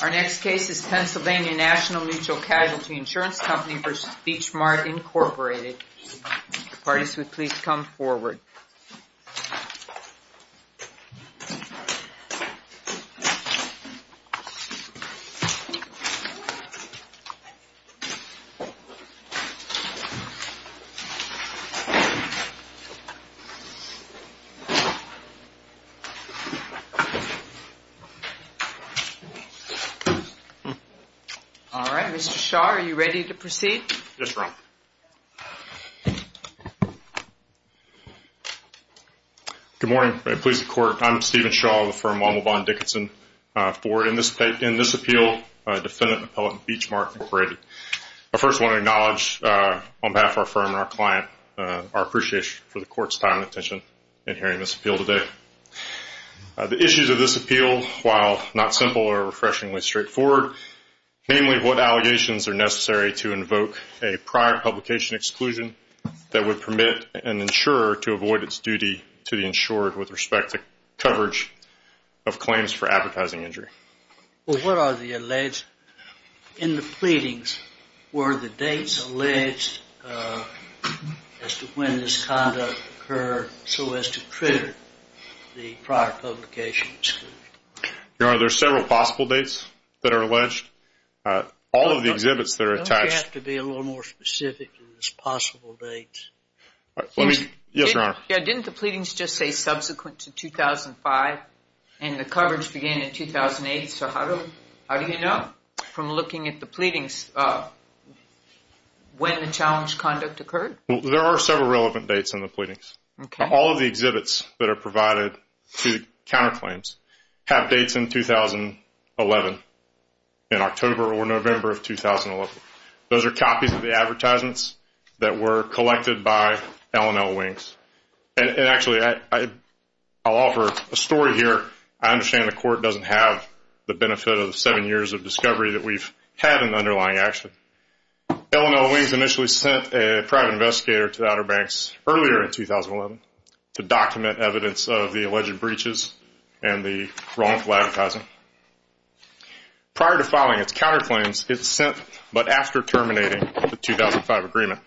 Pennsylvania National Mutual Casualty Insurance Company v. Beach Mart, Inc. Mr. Shaw, are you ready to proceed? Yes, Your Honor. Good morning, police and court. I'm Stephen Shaw of the firm Womblevon Dickinson. In this appeal, defendant and appellant Beach Mart, Inc. I first want to acknowledge on behalf of our firm and our client our appreciation for the court's time and attention in hearing this appeal today. The issues of this appeal, while not simple or refreshingly straightforward, namely what allegations are necessary to invoke a prior publication exclusion that would permit an insurer to avoid its duty to the insured with respect to coverage of claims for advertising injury. Well, what are the alleged in the pleadings? Were the dates alleged as to when this conduct occurred so as to trigger the prior publication exclusion? Your Honor, there are several possible dates that are alleged. All of the exhibits that are attached... Don't you have to be a little more specific in these possible dates? Let me... Yes, Your Honor. Didn't the pleadings just say subsequent to 2005 and the coverage began in 2008? So how do you know from looking at the pleadings when the challenge conduct occurred? There are several relevant dates in the pleadings. All of the exhibits that are provided to counterclaims have dates in 2011, in October or November of 2011. Those are copies of the advertisements that were collected by L&L Wings. And actually, I'll offer a story here. I understand the court doesn't have the benefit of the seven years of discovery that we've had in the underlying action. L&L Wings initially sent a private investigator to the Outer Banks earlier in 2011 to document evidence of the alleged breaches and the wrongful advertising. Prior to filing its counterclaims, it sent, but after terminating the 2005 agreement,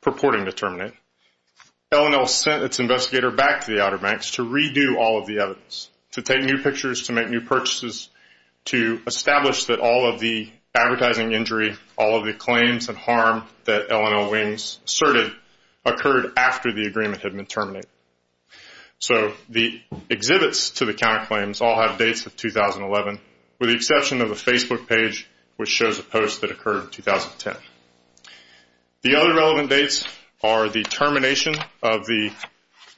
purporting to terminate, L&L sent its investigator back to the Outer Banks to redo all of the evidence, to take new pictures, to make new purchases, to establish that all of the advertising injury, all of the claims and harm that L&L Wings asserted occurred after the agreement had been terminated. So the exhibits to the counterclaims all have dates of 2011, with the exception of the Facebook page, which shows a post that occurred in 2010. The other relevant dates are the termination of the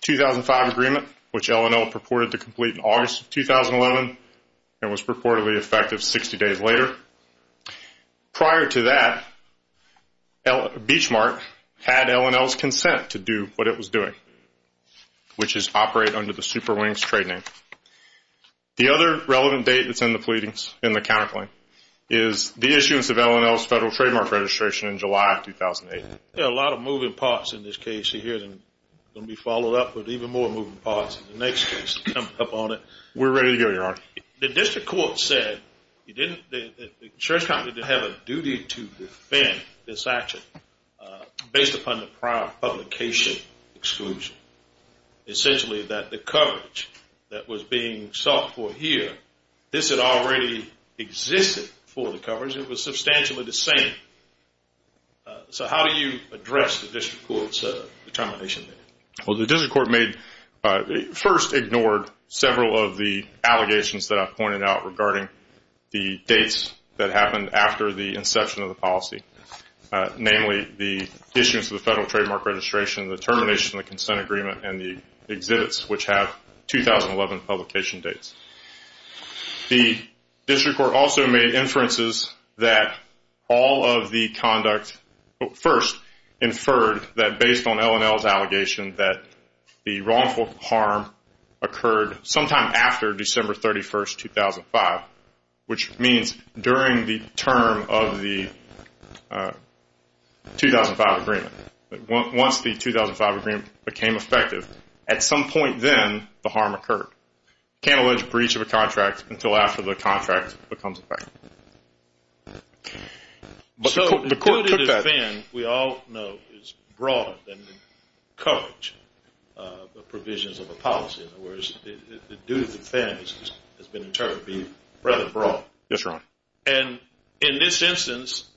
2005 agreement, which L&L purported to complete in August of 2011 and was purportedly effective 60 days later. Prior to that, Beachmark had L&L's consent to do what it was doing, which is operate under the Super Wings trade name. The other relevant date that's in the pleadings, in the counterclaim, is the issuance of L&L's federal trademark registration in July of 2008. There are a lot of moving parts in this case here that are going to be followed up with even more moving parts. The next case is coming up on it. We're ready to go, Your Honor. The district court said the insurance company didn't have a duty to defend this action based upon the prior publication exclusion. Essentially that the coverage that was being sought for here, this had already existed for the coverage. It was substantially the same. So how do you address the district court's determination? Well, the district court first ignored several of the allegations that I've pointed out regarding the dates that happened after the inception of the policy, namely the issuance of the federal trademark registration, the termination of the consent agreement, and the exhibits, which have 2011 publication dates. The district court also made inferences that all of the conduct first inferred that based on L&L's allegation that the wrongful harm occurred sometime after December 31, 2005, which means during the term of the 2005 agreement. Once the 2005 agreement became effective, at some point then the harm occurred. You can't allege a breach of a contract until after the contract becomes effective. So the duty to defend, we all know, is broader than the coverage provisions of a policy. In other words, the duty to defend has been determined to be rather broad. Yes, Your Honor. And in this instance,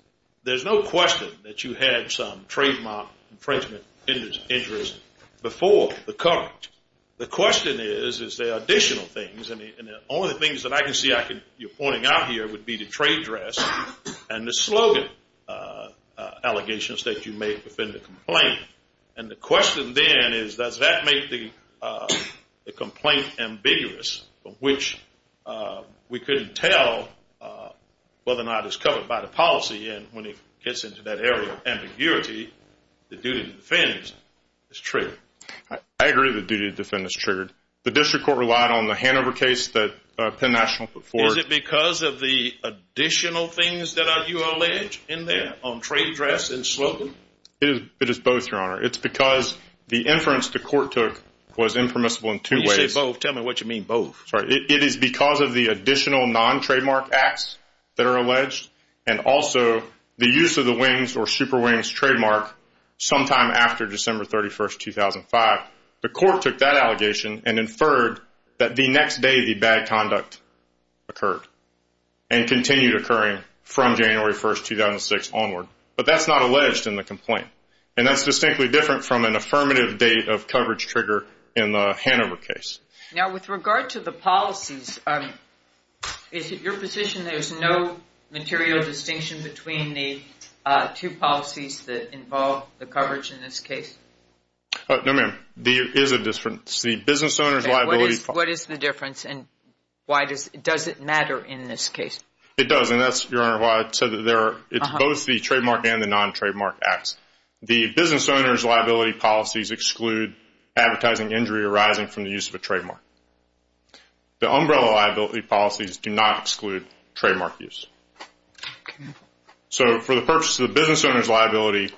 there's no question that you had some trademark infringement interest before the coverage. The question is, is there additional things? And the only things that I can see you pointing out here would be the trade dress and the slogan allegations that you made within the complaint. And the question then is, does that make the complaint ambiguous, which we couldn't tell whether or not it's covered by the policy, and when it gets into that area of ambiguity, the duty to defend is triggered. I agree the duty to defend is triggered. The district court relied on the Hanover case that Penn National put forward. Is it because of the additional things that you allege in there on trade dress and slogan? It is both, Your Honor. It's because the inference the court took was impermissible in two ways. When you say both, tell me what you mean both. It is because of the additional non-trademark acts that are alleged and also the use of the WINGS or Super WINGS trademark sometime after December 31, 2005. The court took that allegation and inferred that the next day the bad conduct occurred and continued occurring from January 1, 2006 onward. But that's not alleged in the complaint, and that's distinctly different from an affirmative date of coverage trigger in the Hanover case. Now, with regard to the policies, is it your position there's no material distinction between the two policies that involve the coverage in this case? No, ma'am. There is a difference. The business owner's liability policy. What is the difference, and does it matter in this case? It does, and that's, Your Honor, why I said that it's both the trademark and the non-trademark acts. The business owner's liability policies exclude advertising injury arising from the use of a trademark. The umbrella liability policies do not exclude trademark use. So for the purpose of the business owner's liability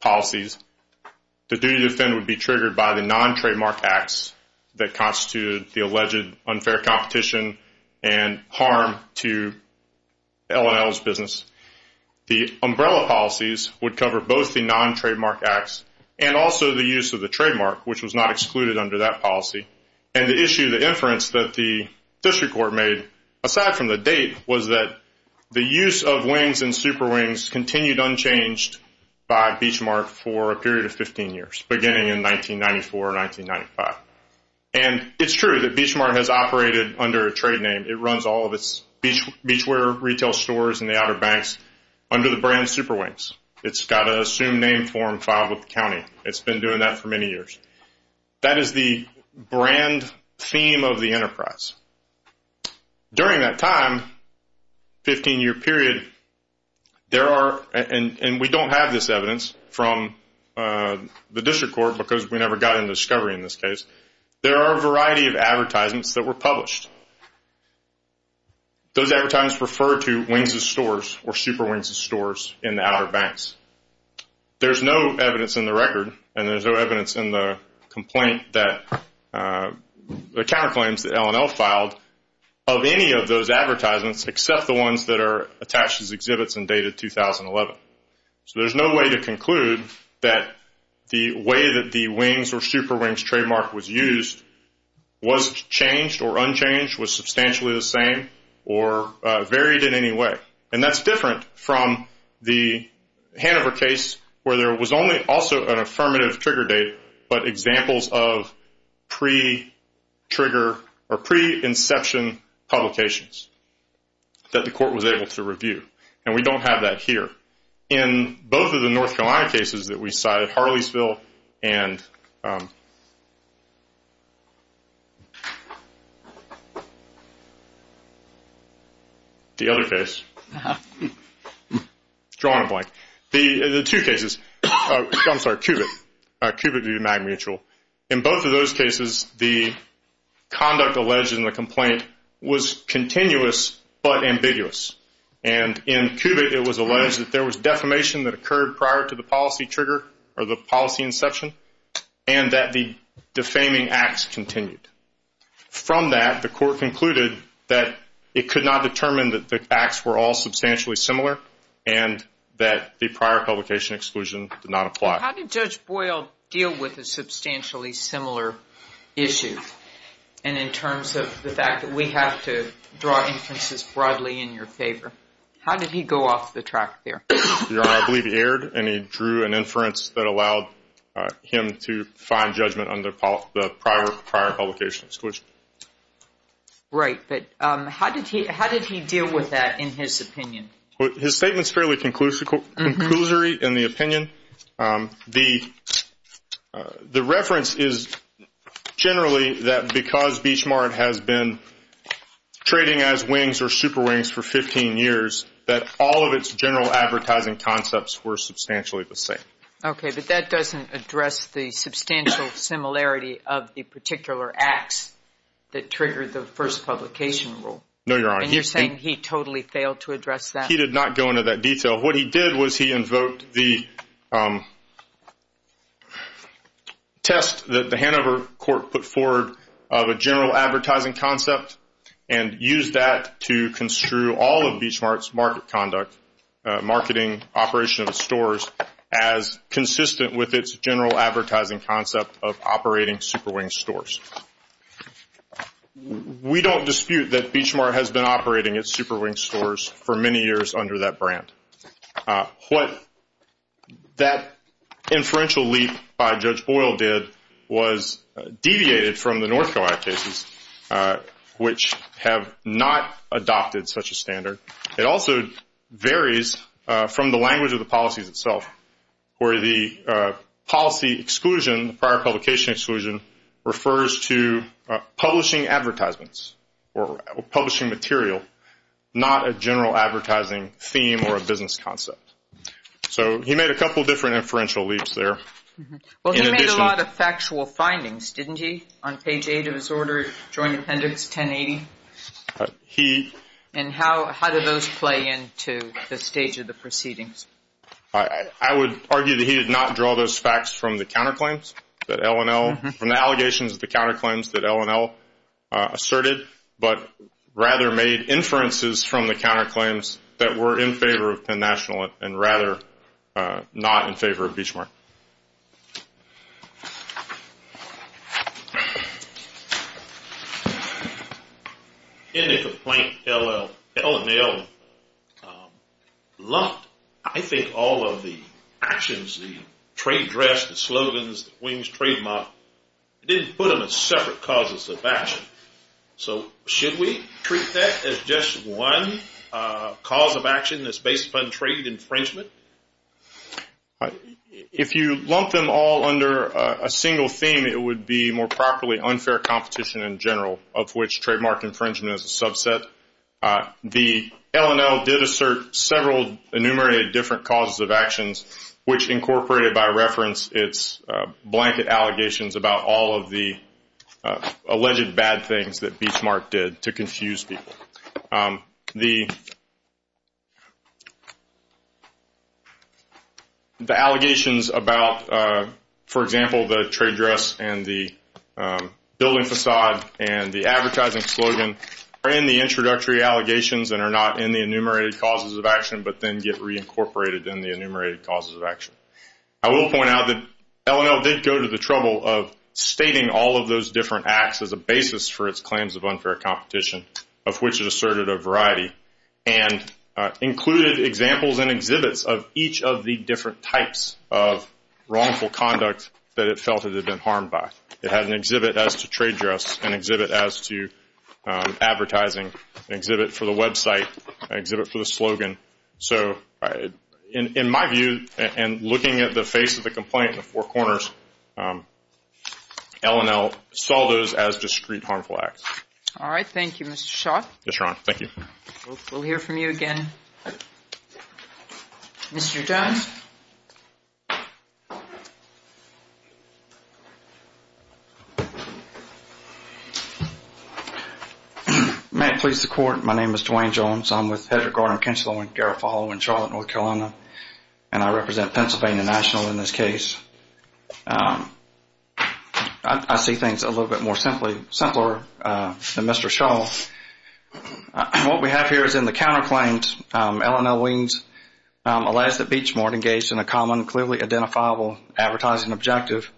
policies, the duty to defend would be triggered by the non-trademark acts that constitute the alleged unfair competition and harm to L&L's business. The umbrella policies would cover both the non-trademark acts and also the use of the trademark, which was not excluded under that policy. And the issue, the inference that the district court made, aside from the date, was that the use of Wings and Super Wings continued unchanged by Beachmark for a period of 15 years, beginning in 1994 or 1995. And it's true that Beachmark has operated under a trade name. It runs all of its beachwear retail stores in the Outer Banks under the brand Super Wings. It's got a assumed name form filed with the county. It's been doing that for many years. That is the brand theme of the enterprise. During that time, 15-year period, there are, and we don't have this evidence from the district court because we never got into discovery in this case, there are a variety of advertisements that were published. Those advertisements refer to Wings' stores or Super Wings' stores in the Outer Banks. There's no evidence in the record and there's no evidence in the complaint that, the counterclaims that L&L filed of any of those advertisements except the ones that are attached as exhibits and dated 2011. So there's no way to conclude that the way that the Wings or Super Wings trademark was used was changed or unchanged, was substantially the same or varied in any way. And that's different from the Hanover case where there was only also an affirmative trigger date but examples of pre-trigger or pre-inception publications that the court was able to review. And we don't have that here. In both of the North Carolina cases that we cited, Harleysville and the other case, drawing a blank, the two cases, I'm sorry, Cubitt, Cubitt v. Mag Mutual, in both of those cases the conduct alleged in the complaint was continuous but ambiguous. And in Cubitt it was alleged that there was defamation that occurred prior to the policy trigger or the policy inception and that the defaming acts continued. From that the court concluded that it could not determine that the acts were all substantially similar and that the prior publication exclusion did not apply. How did Judge Boyle deal with a substantially similar issue? And in terms of the fact that we have to draw inferences broadly in your favor, how did he go off the track there? Your Honor, I believe he erred and he drew an inference that allowed him to find judgment on the prior publication exclusion. Right, but how did he deal with that in his opinion? His statement is fairly conclusory in the opinion. The reference is generally that because Beach Mart has been trading as Wings or Super Wings for 15 years, that all of its general advertising concepts were substantially the same. Okay, but that doesn't address the substantial similarity of the particular acts that triggered the first publication rule. No, Your Honor. And you're saying he totally failed to address that? He did not go into that detail. What he did was he invoked the test that the Hanover court put forward of a general advertising concept and used that to construe all of Beach Mart's market conduct, marketing, operation of its stores, as consistent with its general advertising concept of operating Super Wings stores. We don't dispute that Beach Mart has been operating its Super Wings stores for many years under that brand. What that inferential leap by Judge Boyle did was deviated from the North Carolina cases, which have not adopted such a standard. It also varies from the language of the policies itself, where the policy exclusion, the prior publication exclusion, refers to publishing advertisements or publishing material, not a general advertising theme or a business concept. So he made a couple different inferential leaps there. Well, he made a lot of factual findings, didn't he, on page 8 of his order, Joint Appendix 1080? And how did those play into the stage of the proceedings? I would argue that he did not draw those facts from the counterclaims that L&L, from the allegations of the counterclaims that L&L asserted, but rather made inferences from the counterclaims that were in favor of Penn National and rather not in favor of Beach Mart. In the complaint, L&L lumped, I think, all of the actions, the trade dress, the slogans, the Wings trade model. It didn't put them as separate causes of action. So should we treat that as just one cause of action that's based upon trade infringement? If you lump them all under a single theme, it would be more properly unfair competition in general, of which trademark infringement is a subset. The L&L did assert several enumerated different causes of actions, which incorporated by reference its blanket allegations about all of the alleged bad things that Beach Mart did to confuse people. The allegations about, for example, the trade dress and the building facade and the advertising slogan, are in the introductory allegations and are not in the enumerated causes of action, but then get reincorporated in the enumerated causes of action. I will point out that L&L did go to the trouble of stating all of those different acts as a basis for its claims of unfair competition, of which it asserted a variety, and included examples and exhibits of each of the different types of wrongful conduct that it felt it had been harmed by. It had an exhibit as to trade dress, an exhibit as to advertising, an exhibit for the website, an exhibit for the slogan. So in my view, and looking at the face of the complaint in the four corners, L&L saw those as discrete harmful acts. All right. Thank you, Mr. Shaw. Yes, Your Honor. Thank you. We'll hear from you again. Mr. Jones. May it please the Court, my name is Dwayne Jones. I'm with Hedrick, Gardner, McKenzie-Lewin, Garofalo in Charlotte, North Carolina, and I represent Pennsylvania National in this case. I see things a little bit more simply, simpler than Mr. Shaw. What we have here is in the counterclaims, L&L Weems, Alasdair Beachmore engaged in a common, clearly identifiable advertising objective.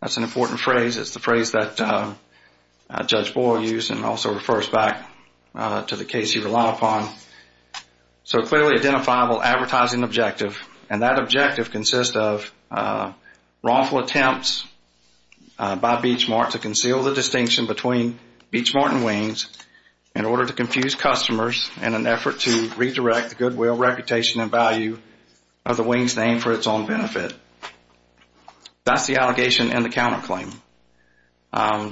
That's an important phrase. It's the phrase that Judge Boyle used and also refers back to the case you rely upon. So clearly identifiable advertising objective. And that objective consists of wrongful attempts by Beachmore to conceal the distinction between Beachmore and Weems in order to confuse customers in an effort to redirect the goodwill, reputation, and value of the Weems name for its own benefit. That's the allegation in the counterclaim.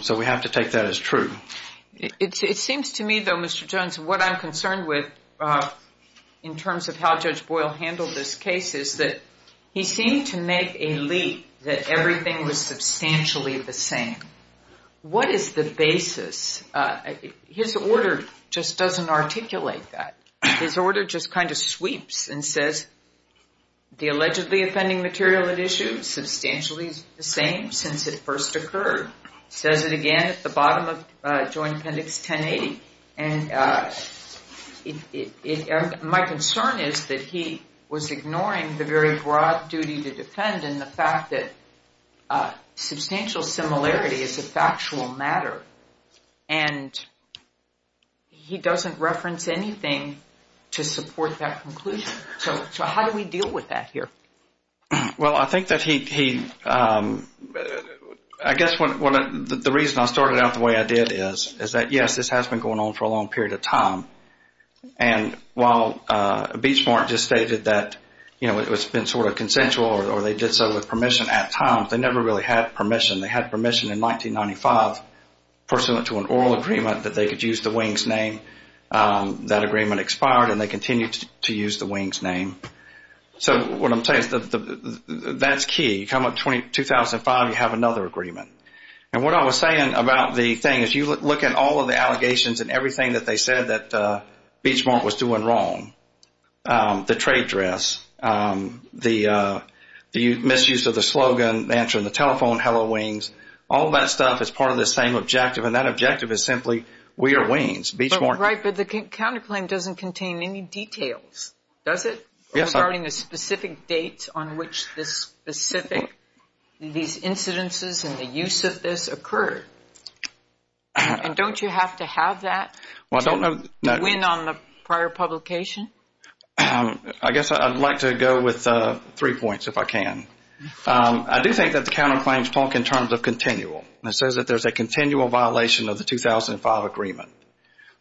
So we have to take that as true. It seems to me, though, Mr. Jones, what I'm concerned with in terms of how Judge Boyle handled this case is that he seemed to make a leap that everything was substantially the same. What is the basis? His order just doesn't articulate that. His order just kind of sweeps and says the allegedly offending material at issue substantially is the same since it first occurred. It says it again at the bottom of Joint Appendix 1080. And my concern is that he was ignoring the very broad duty to defend and the fact that substantial similarity is a factual matter. And he doesn't reference anything to support that conclusion. So how do we deal with that here? Well, I think that he, I guess the reason I started out the way I did is that, yes, this has been going on for a long period of time. And while Beachmore just stated that, you know, it's been sort of consensual or they did so with permission at times, they never really had permission. They had permission in 1995 pursuant to an oral agreement that they could use the Weems name. That agreement expired and they continued to use the Weems name. So what I'm saying is that that's key. You come up 2005, you have another agreement. And what I was saying about the thing is you look at all of the allegations and everything that they said that Beachmore was doing wrong, the trade dress, the misuse of the slogan, answering the telephone, hello, Weems, all that stuff is part of the same objective and that objective is simply we are Weems, Beachmore. Right, but the counterclaim doesn't contain any details, does it? Yes. Regarding the specific dates on which this specific, these incidences and the use of this occurred. And don't you have to have that to win on the prior publication? I guess I'd like to go with three points if I can. I do think that the counterclaims talk in terms of continual. It says that there's a continual violation of the 2005 agreement.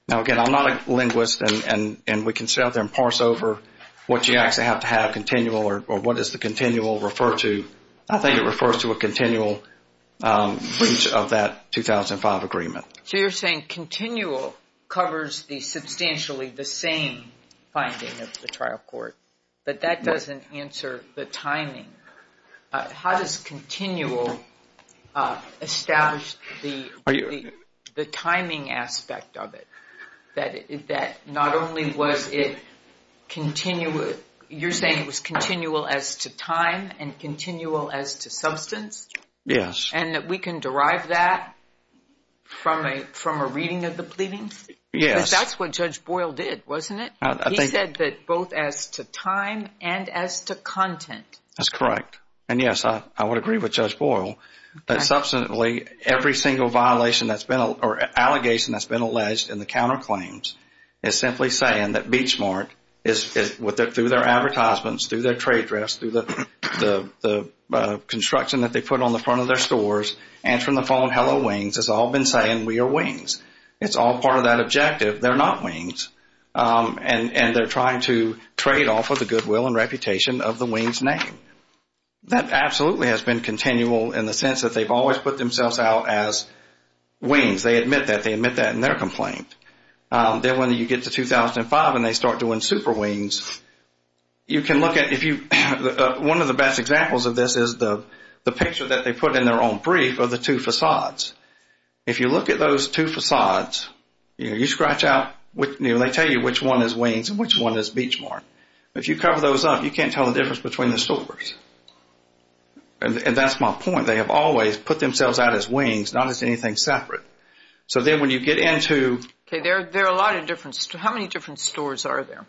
Now, again, I'm not a linguist and we can sit out there and parse over what you actually have to have continual or what does the continual refer to. I think it refers to a continual breach of that 2005 agreement. So you're saying continual covers the substantially the same finding of the trial court. But that doesn't answer the timing. How does continual establish the timing aspect of it? That not only was it continual, you're saying it was continual as to time and continual as to substance? Yes. And that we can derive that from a reading of the pleadings? Yes. Because that's what Judge Boyle did, wasn't it? He said that both as to time and as to content. That's correct. And, yes, I would agree with Judge Boyle that substantially every single violation or allegation that's been alleged in the counterclaims is simply saying that Beachmark, through their advertisements, through their trade dress, through the construction that they put on the front of their stores, answering the phone, hello, Wings, has all been saying we are Wings. It's all part of that objective. They're not Wings. And they're trying to trade off of the goodwill and reputation of the Wings name. That absolutely has been continual in the sense that they've always put themselves out as Wings. They admit that. They admit that in their complaint. Then when you get to 2005 and they start doing super Wings, you can look at if you – one of the best examples of this is the picture that they put in their own brief of the two facades. If you look at those two facades, you scratch out – they tell you which one is Wings and which one is Beachmark. If you cover those up, you can't tell the difference between the stores. And that's my point. They have always put themselves out as Wings, not as anything separate. So then when you get into – Okay. There are a lot of different – how many different stores are there?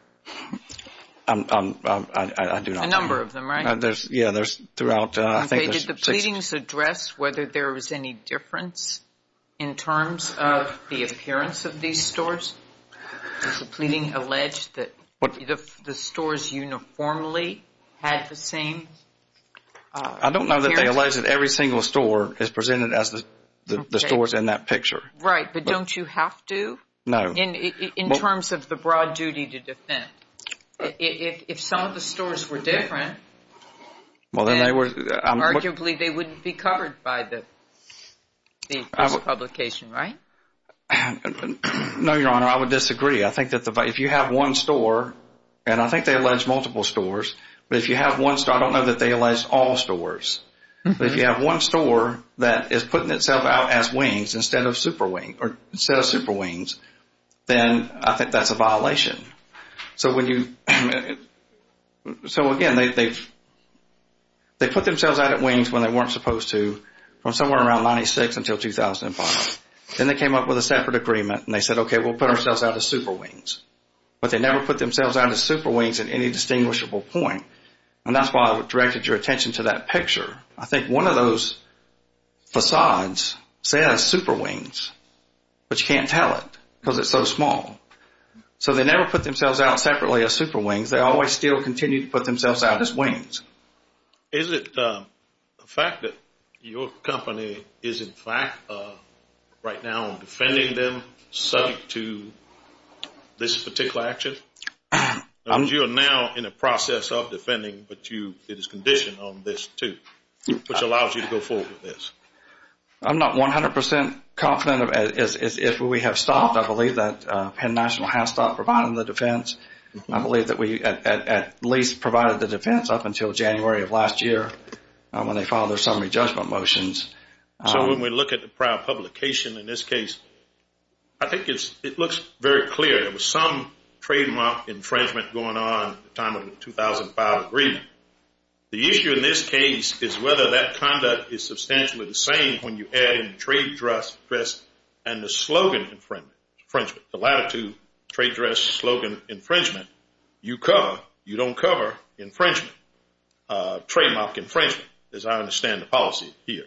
I do not know. A number of them, right? Yeah. Okay. Did the pleadings address whether there was any difference in terms of the appearance of these stores? Does the pleading allege that the stores uniformly had the same appearance? I don't know that they allege that every single store is presented as the stores in that picture. Right. But don't you have to? No. In terms of the broad duty to defend. If some of the stores were different, then arguably they wouldn't be covered by the publication, right? No, Your Honor. I would disagree. I think that if you have one store – and I think they allege multiple stores. But if you have one store – I don't know that they allege all stores. But if you have one store that is putting itself out as Wings instead of Super Wings, then I think that's a violation. So again, they put themselves out at Wings when they weren't supposed to from somewhere around 96 until 2005. Then they came up with a separate agreement and they said, okay, we'll put ourselves out as Super Wings. But they never put themselves out as Super Wings at any distinguishable point. And that's why I directed your attention to that picture. I think one of those facades says Super Wings, but you can't tell it because it's so small. So they never put themselves out separately as Super Wings. They always still continue to put themselves out as Wings. Is it the fact that your company is, in fact, right now defending them subject to this particular action? You are now in the process of defending, but it is conditioned on this too, which allows you to go forward with this. I'm not 100 percent confident as if we have stopped. I believe that Penn National has stopped providing the defense. I believe that we at least provided the defense up until January of last year when they filed their summary judgment motions. So when we look at the prior publication in this case, I think it looks very clear. There was some trademark infringement going on at the time of the 2005 agreement. The issue in this case is whether that conduct is substantially the same when you add in trade dress and the slogan infringement, the latitude trade dress slogan infringement, you cover, you don't cover infringement, trademark infringement, as I understand the policy here.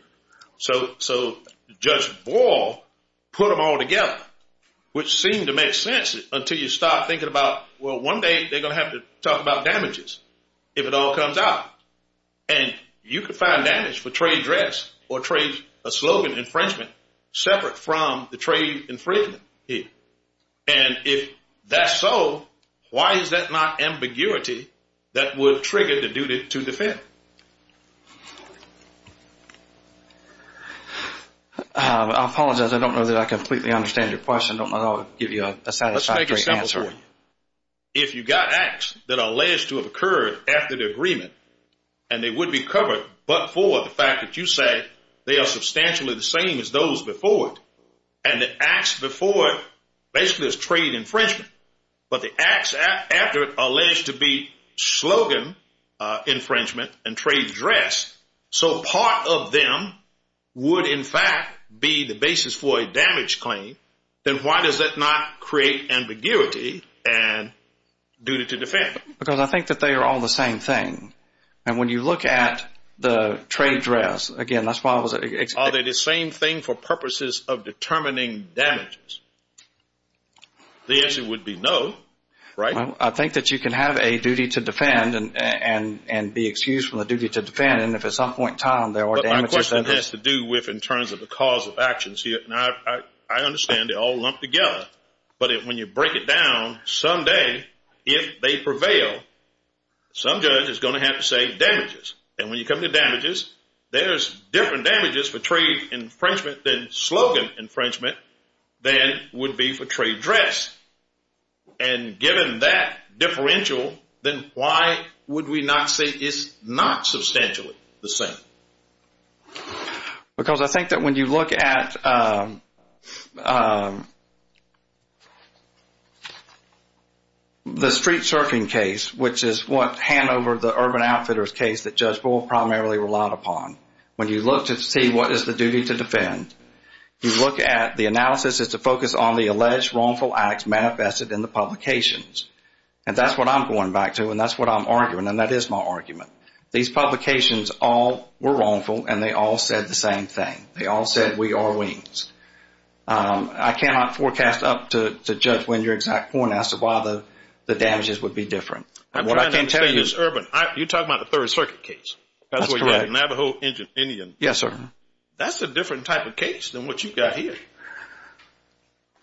So Judge Boyle put them all together, which seemed to make sense until you start thinking about, well, one day they're going to have to talk about damages if it all comes out. And you could find damage for trade dress or a slogan infringement separate from the trade infringement here. And if that's so, why is that not ambiguity that would trigger the duty to defend? I apologize. I don't know that I completely understand your question. I don't know if I'll give you a satisfactory answer. Let's make it simple for you. If you got acts that are alleged to have occurred after the agreement and they would be covered but for the fact that you said they are substantially the same as those before it and the acts before it basically is trade infringement. But the acts after it are alleged to be slogan infringement and trade dress. So part of them would in fact be the basis for a damage claim. Then why does that not create ambiguity and duty to defend? Because I think that they are all the same thing. And when you look at the trade dress, again, that's why I was asking. Are they the same thing for purposes of determining damages? The answer would be no, right? I think that you can have a duty to defend and be excused from the duty to defend. And if at some point in time there were damages. But my question has to do with in terms of the cause of actions here. And I understand they're all lumped together. But when you break it down, someday if they prevail, some judge is going to have to say damages. And when you come to damages, there's different damages for trade infringement than slogan infringement than would be for trade dress. And given that differential, then why would we not say it's not substantially the same? Because I think that when you look at the street surfing case, which is Hanover, the Urban Outfitters case that Judge Bull primarily relied upon. When you look to see what is the duty to defend, you look at the analysis is to focus on the alleged wrongful acts manifested in the publications. And that's what I'm going back to and that's what I'm arguing and that is my argument. These publications all were wrongful and they all said the same thing. They all said we are wings. I cannot forecast up to Judge Wendrick's point as to why the damages would be different. I'm trying to understand this Urban. You're talking about the Third Circuit case. That's correct. That's where you have the Navajo Indian. Yes, sir. That's a different type of case than what you've got here.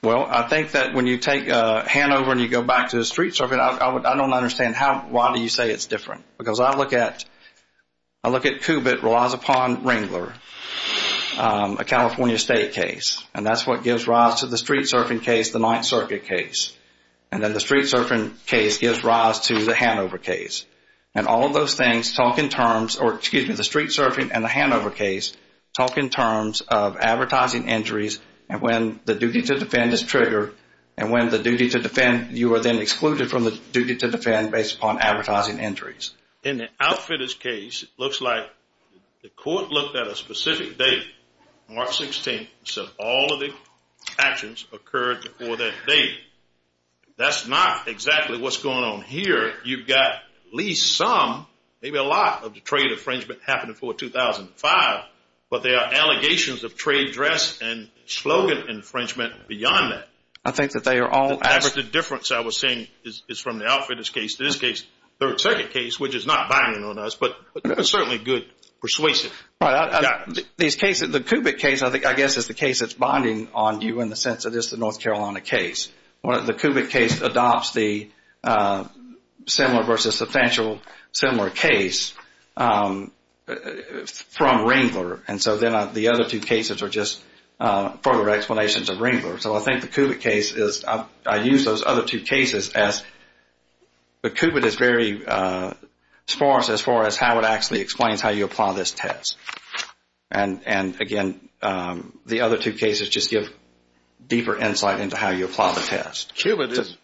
Well, I think that when you take Hanover and you go back to the street surfing, I don't understand why do you say it's different? Because I look at Kubit relies upon Ringler, a California State case. And that's what gives rise to the street surfing case, the Ninth Circuit case. And then the street surfing case gives rise to the Hanover case. And all of those things talk in terms, or excuse me, the street surfing and the Hanover case talk in terms of advertising injuries and when the duty to defend is triggered and when the duty to defend, you are then excluded from the duty to defend based upon advertising injuries. In the Outfitters case, it looks like the court looked at a specific date, March 16th, and said all of the actions occurred before that date. That's not exactly what's going on here. You've got at least some, maybe a lot of the trade infringement happening before 2005, but there are allegations of trade dress and slogan infringement beyond that. I think that they are all. However, the difference I was saying is from the Outfitters case to this case, Third Circuit case, which is not binding on us, but certainly good persuasive. These cases, the Kubit case, I guess is the case that's binding on you in the sense that it's the North Carolina case. The Kubit case adopts the similar versus substantial similar case from Ringler. And so then the other two cases are just further explanations of Ringler. So I think the Kubit case is, I use those other two cases as, the Kubit is very sparse as far as how it actually explains how you apply this test. And again, the other two cases just give deeper insight into how you apply the test. Kubit is,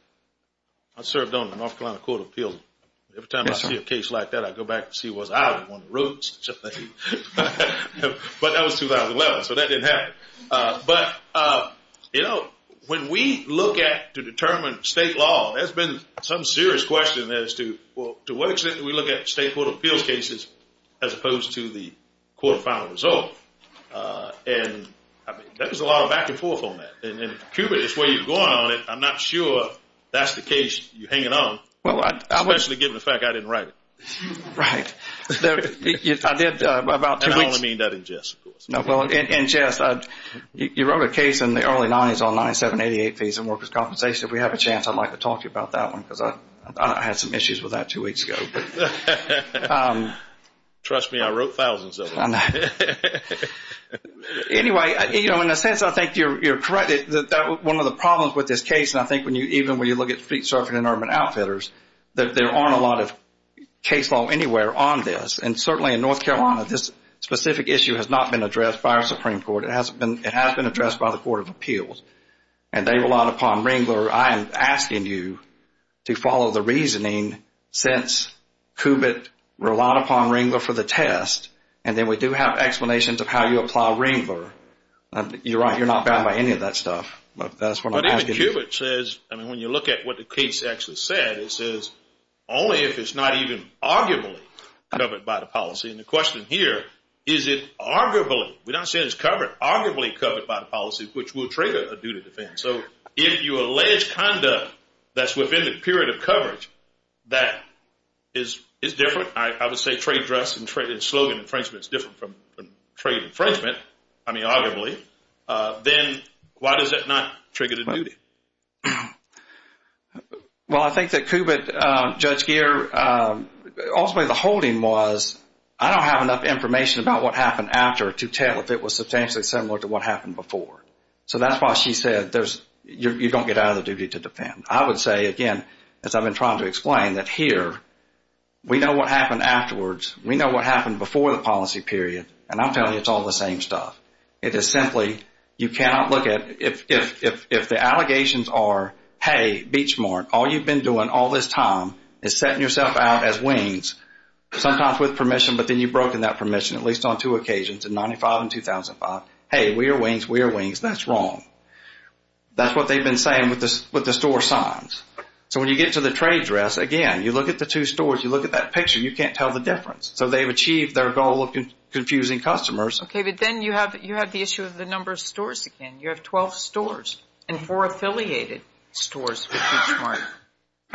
I served on the North Carolina Court of Appeals. Every time I see a case like that, I go back to see what's out on the roads. But that was 2011, so that didn't happen. But, you know, when we look at, to determine state law, there's been some serious question as to, well, to what extent do we look at state court of appeals cases as opposed to the court final result? And there's a lot of back and forth on that. And Kubit is where you're going on it. I'm not sure that's the case you're hanging on, especially given the fact I didn't write it. Right. I did about two weeks. And I only mean that in jest, of course. No, well, in jest, you wrote a case in the early 90s on 9788 fees and workers' compensation. If we have a chance, I'd like to talk to you about that one because I had some issues with that two weeks ago. Trust me, I wrote thousands of them. Anyway, you know, in a sense, I think you're correct. One of the problems with this case, and I think even when you look at street surfing and urban outfitters, there aren't a lot of case law anywhere on this. And certainly in North Carolina, this specific issue has not been addressed by our Supreme Court. It has been addressed by the Court of Appeals. And they relied upon Ringler. I am asking you to follow the reasoning since Kubit relied upon Ringler for the test, and then we do have explanations of how you apply Ringler. You're right, you're not bound by any of that stuff. But that's what I'm asking. But even Kubit says, I mean, when you look at what the case actually said, it says, only if it's not even arguably covered by the policy. And the question here, is it arguably, we're not saying it's covered, but it's arguably covered by the policy, which will trigger a duty to defend. So if you allege conduct that's within the period of coverage, that is different. I would say trade dress and slogan infringement is different from trade infringement, I mean, arguably. Then why does that not trigger the duty? Well, I think that Kubit, Judge Geer, ultimately the holding was, I don't have enough information about what happened after to tell if it was substantially similar to what happened before. So that's why she said you don't get out of the duty to defend. I would say, again, as I've been trying to explain, that here we know what happened afterwards, we know what happened before the policy period, and I'm telling you it's all the same stuff. It is simply, you cannot look at, if the allegations are, hey, Beachmart, all you've been doing all this time is setting yourself out as wings, sometimes with permission, but then you've broken that permission, at least on two occasions, in 1995 and 2005. Hey, we are wings, we are wings, that's wrong. That's what they've been saying with the store signs. So when you get to the trade dress, again, you look at the two stores, you look at that picture, you can't tell the difference. So they've achieved their goal of confusing customers. Okay, but then you have the issue of the number of stores again. You have 12 stores and four affiliated stores with Beachmart.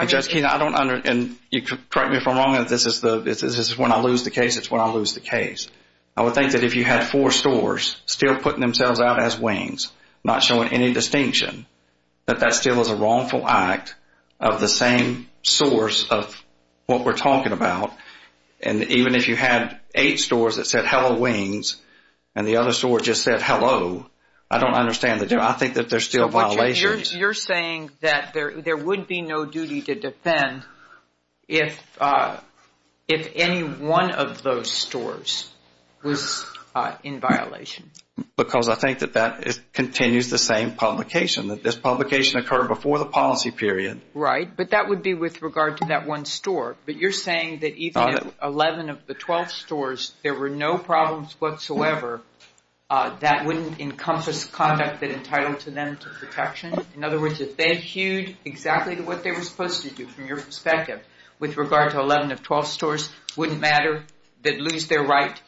Judge Keene, I don't understand, and correct me if I'm wrong, this is when I lose the case, it's when I lose the case. I would think that if you had four stores still putting themselves out as wings, not showing any distinction, that that still is a wrongful act of the same source of what we're talking about. And even if you had eight stores that said, hello, wings, and the other store just said, hello, I don't understand the difference. I think that there's still violations. You're saying that there would be no duty to defend if any one of those stores was in violation. Because I think that that continues the same publication, that this publication occurred before the policy period. Right, but that would be with regard to that one store. But you're saying that even if 11 of the 12 stores, there were no problems whatsoever, that wouldn't encompass conduct that entitled to them to protection? In other words, if they hewed exactly what they were supposed to do, from your perspective, with regard to 11 of 12 stores, wouldn't matter that lose their right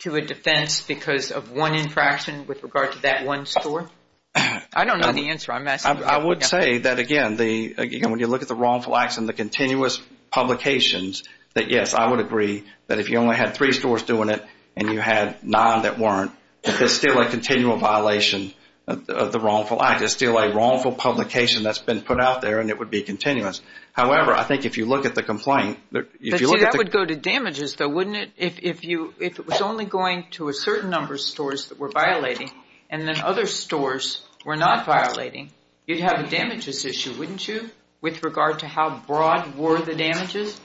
to a defense because of one infraction with regard to that one store? I don't know the answer. I would say that, again, when you look at the wrongful acts and the continuous publications, that, yes, I would agree that if you only had three stores doing it and you had nine that weren't, that there's still a continual violation of the wrongful act. There's still a wrongful publication that's been put out there, and it would be continuous. However, I think if you look at the complaint, if you look at the But see, that would go to damages, though, wouldn't it? If it was only going to a certain number of stores that were violating, and then other stores were not violating, you'd have a damages issue, wouldn't you, with regard to how broad were the damages?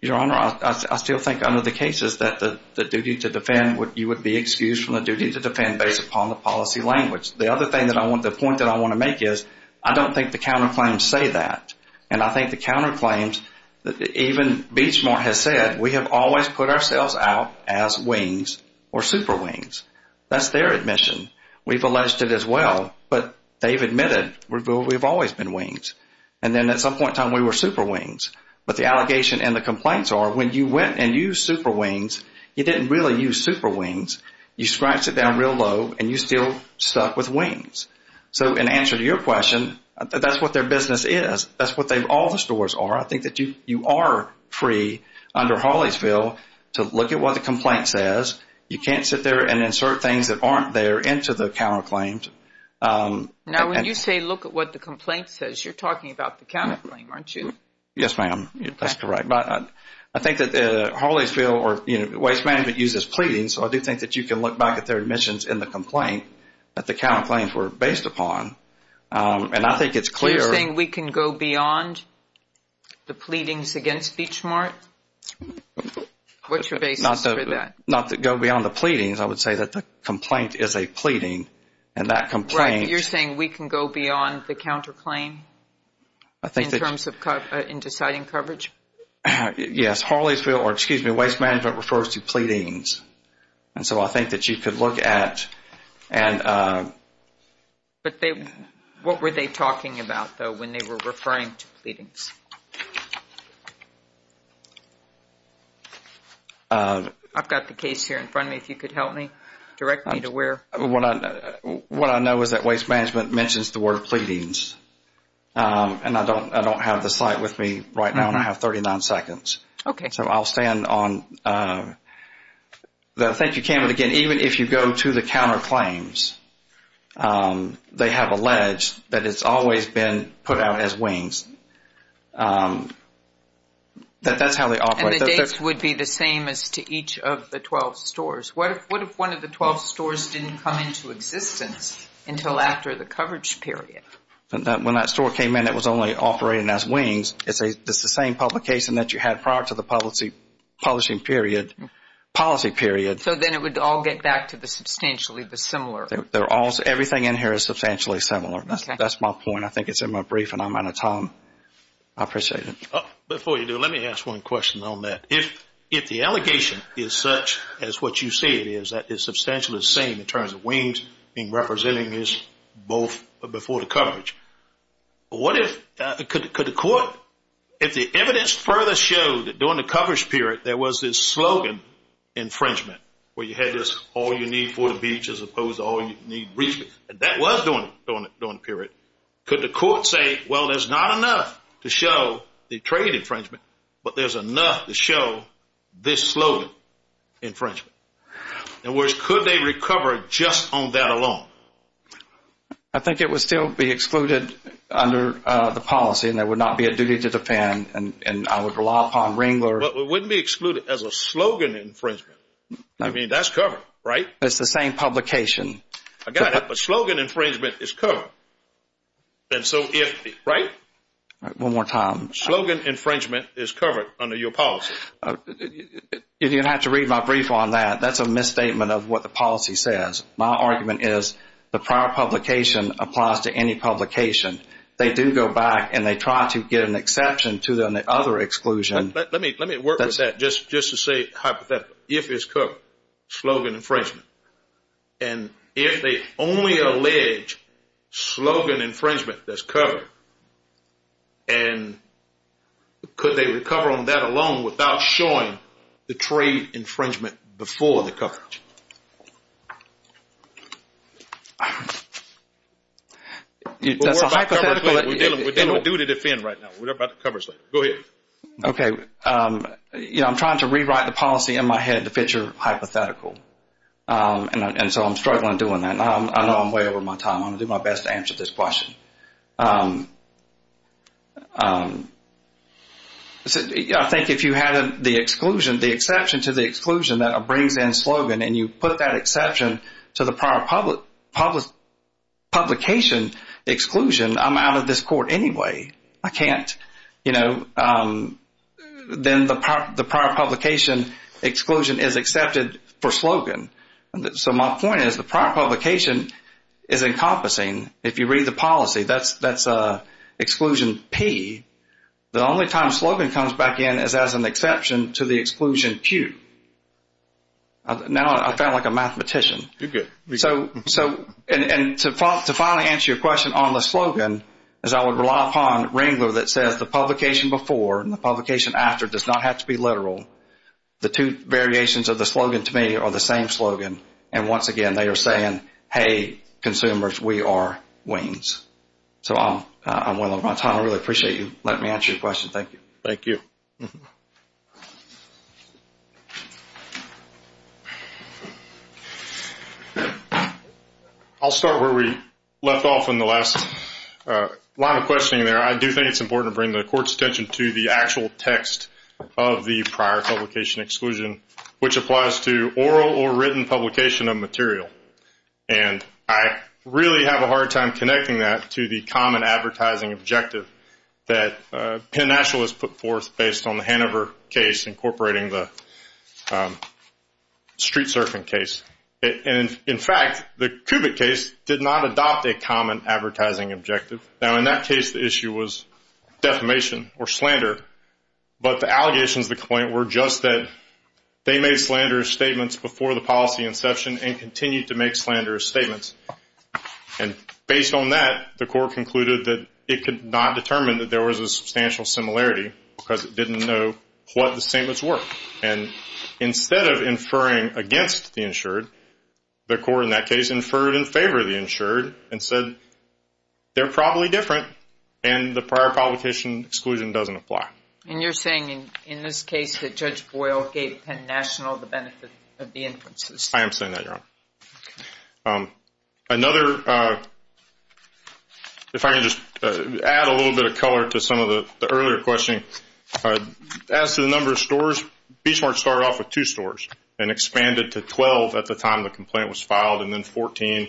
Your Honor, I still think under the cases that the duty to defend, you would be excused from the duty to defend based upon the policy language. The other point that I want to make is I don't think the counterclaims say that, and I think the counterclaims, even Beechmark has said, we have always put ourselves out as wings or super wings. That's their admission. We've alleged it as well, but they've admitted we've always been wings. And then at some point in time, we were super wings. But the allegation and the complaints are when you went and used super wings, you didn't really use super wings. You scratched it down real low, and you still stuck with wings. So in answer to your question, that's what their business is. That's what all the stores are. I think that you are free under Hawley's bill to look at what the complaint says. You can't sit there and insert things that aren't there into the counterclaims. Now, when you say look at what the complaint says, you're talking about the counterclaim, aren't you? Yes, ma'am. That's correct. But I think that Hawley's bill or Waste Management uses pleadings, so I do think that you can look back at their admissions in the complaint that the counterclaims were based upon. And I think it's clear. So you're saying we can go beyond the pleadings against Beechmark? What's your basis for that? Not to go beyond the pleadings. I would say that the complaint is a pleading, and that complaint. Right. You're saying we can go beyond the counterclaim in terms of deciding coverage? Yes. Hawley's bill or, excuse me, Waste Management refers to pleadings. And so I think that you could look at. What were they talking about, though, when they were referring to pleadings? I've got the case here in front of me. If you could help me, direct me to where. What I know is that Waste Management mentions the word pleadings, and I don't have the slide with me right now, and I have 39 seconds. Okay. So I'll stand on the. Thank you, Cameron, again. Even if you go to the counterclaims, they have alleged that it's always been put out as wings, that that's how they operate. And the dates would be the same as to each of the 12 stores. What if one of the 12 stores didn't come into existence until after the coverage period? When that store came in, it was only operating as wings. It's the same publication that you had prior to the publishing period, policy period. So then it would all get back to the substantially dissimilar. Everything in here is substantially similar. That's my point. I think it's in my brief, and I'm out of time. I appreciate it. Before you do, let me ask one question on that. If the allegation is such as what you say it is, that it's substantially the same in terms of wings being represented as both before the coverage, what if the evidence further showed that during the coverage period there was this slogan, infringement, where you had this all you need for the beach as opposed to all you need, and that was during the period. Could the court say, well, there's not enough to show the trade infringement, but there's enough to show this slogan, infringement? In other words, could they recover just on that alone? I think it would still be excluded under the policy, and there would not be a duty to defend, and I would rely upon Ringler. But it wouldn't be excluded as a slogan infringement. I mean, that's covered, right? It's the same publication. I got it, but slogan infringement is covered. Right? One more time. Slogan infringement is covered under your policy. You're going to have to read my brief on that. That's a misstatement of what the policy says. My argument is the prior publication applies to any publication. They do go back and they try to get an exception to the other exclusion. Let me work with that just to say hypothetically. If it's covered, slogan infringement. And if they only allege slogan infringement that's covered, and could they recover on that alone without showing the trade infringement before the coverage? That's a hypothetical. We're dealing with duty to defend right now. We're talking about the coverage. Go ahead. Okay. You know, I'm trying to rewrite the policy in my head to fit your hypothetical, and so I'm struggling doing that. I know I'm way over my time. I'm going to do my best to answer this question. I think if you had the exception to the exclusion that brings in slogan and you put that exception to the prior publication exclusion, I'm out of this court anyway. I can't, you know. Then the prior publication exclusion is accepted for slogan. So my point is the prior publication is encompassing. If you read the policy, that's exclusion P. The only time slogan comes back in is as an exception to the exclusion Q. Now I sound like a mathematician. You're good. And to finally answer your question on the slogan is I would rely upon Ringler that says the publication before and the publication after does not have to be literal. The two variations of the slogan to me are the same slogan, and once again they are saying, hey, consumers, we are wings. So I'm way over my time. I really appreciate you letting me answer your question. Thank you. Thank you. I'll start where we left off in the last line of questioning there. I do think it's important to bring the court's attention to the actual text of the prior publication exclusion, which applies to oral or written publication of material. And I really have a hard time connecting that to the common advertising objective that Penn Nationalist put forth based on the Hanover case incorporating the street surfing case. And, in fact, the Kubit case did not adopt a common advertising objective. Now in that case the issue was defamation or slander, but the allegations of the complaint were just that they made slanderous statements before the policy inception and continued to make slanderous statements. And based on that, the court concluded that it could not determine that there was a substantial similarity because it didn't know what the statements were. And instead of inferring against the insured, the court in that case inferred in favor of the insured and said they're probably different and the prior publication exclusion doesn't apply. And you're saying in this case that Judge Boyle gave Penn National the benefit of the inferences. I am saying that, Your Honor. Another, if I can just add a little bit of color to some of the earlier questioning, as to the number of stores, Beachmart started off with two stores and expanded to 12 at the time the complaint was filed and then 14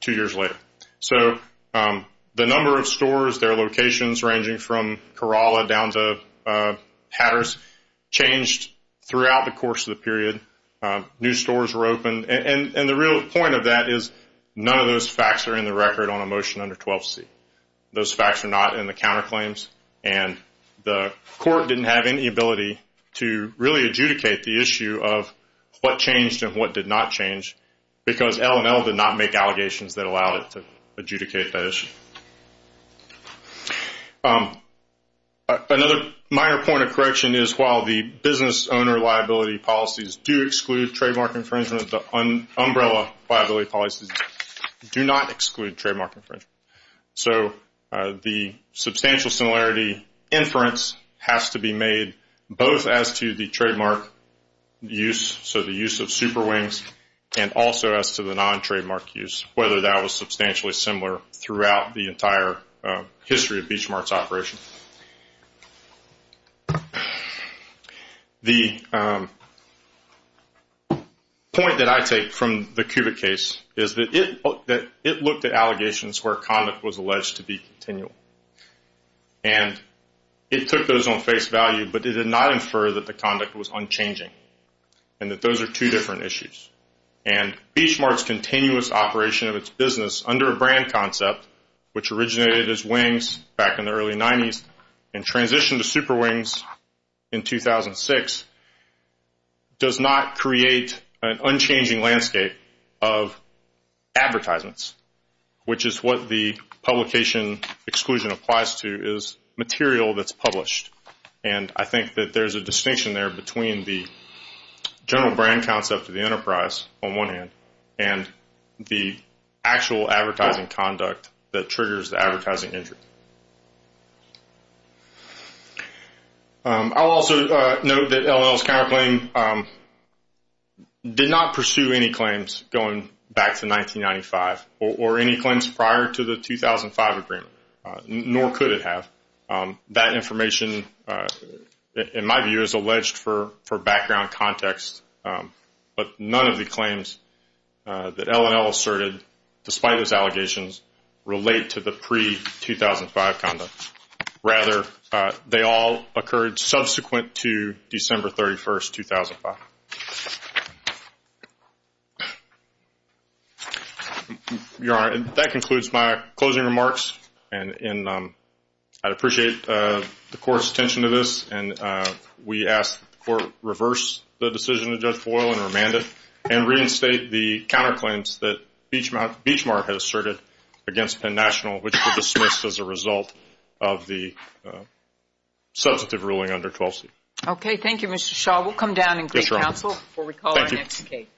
two years later. So the number of stores, their locations ranging from Corolla down to Hatters, changed throughout the course of the period. New stores were opened. And the real point of that is none of those facts are in the record on a motion under 12C. Those facts are not in the counterclaims. And the court didn't have any ability to really adjudicate the issue of what changed and what did not change because L&L did not make allegations that allowed it to adjudicate that issue. Another minor point of correction is while the business owner liability policies do exclude trademark infringement, the umbrella liability policies do not exclude trademark infringement. So the substantial similarity inference has to be made both as to the trademark use, so the use of Super Wings, and also as to the non-trademark use, whether that was substantially similar throughout the entire history of Beachmart's operation. The point that I take from the Kubik case is that it looked at allegations where conduct was alleged to be continual. And it took those on face value, but it did not infer that the conduct was unchanging and that those are two different issues. And Beachmart's continuous operation of its business under a brand concept, which originated as Wings back in the early 90s and transitioned to Super Wings in 2006, does not create an unchanging landscape of advertisements, which is what the publication exclusion applies to is material that's published. And I think that there's a distinction there between the general brand concept of the enterprise on one hand and the actual advertising conduct that triggers the advertising entry. I'll also note that LL's counterclaim did not pursue any claims going back to 1995 or any claims prior to the 2005 agreement, nor could it have. That information, in my view, is alleged for background context, but none of the claims that LL asserted, despite his allegations, relate to the pre-2005 conduct. Rather, they all occurred subsequent to December 31st, 2005. Your Honor, that concludes my closing remarks, and I'd appreciate the Court's attention to this. And we ask that the Court reverse the decision of Judge Boyle and remand it and reinstate the counterclaims that Beachmart has asserted against Penn National, which were dismissed as a result of the substantive ruling under 12C. Okay. Thank you, Mr. Shaw. We'll come down and create counsel before we call our next case. Thank you.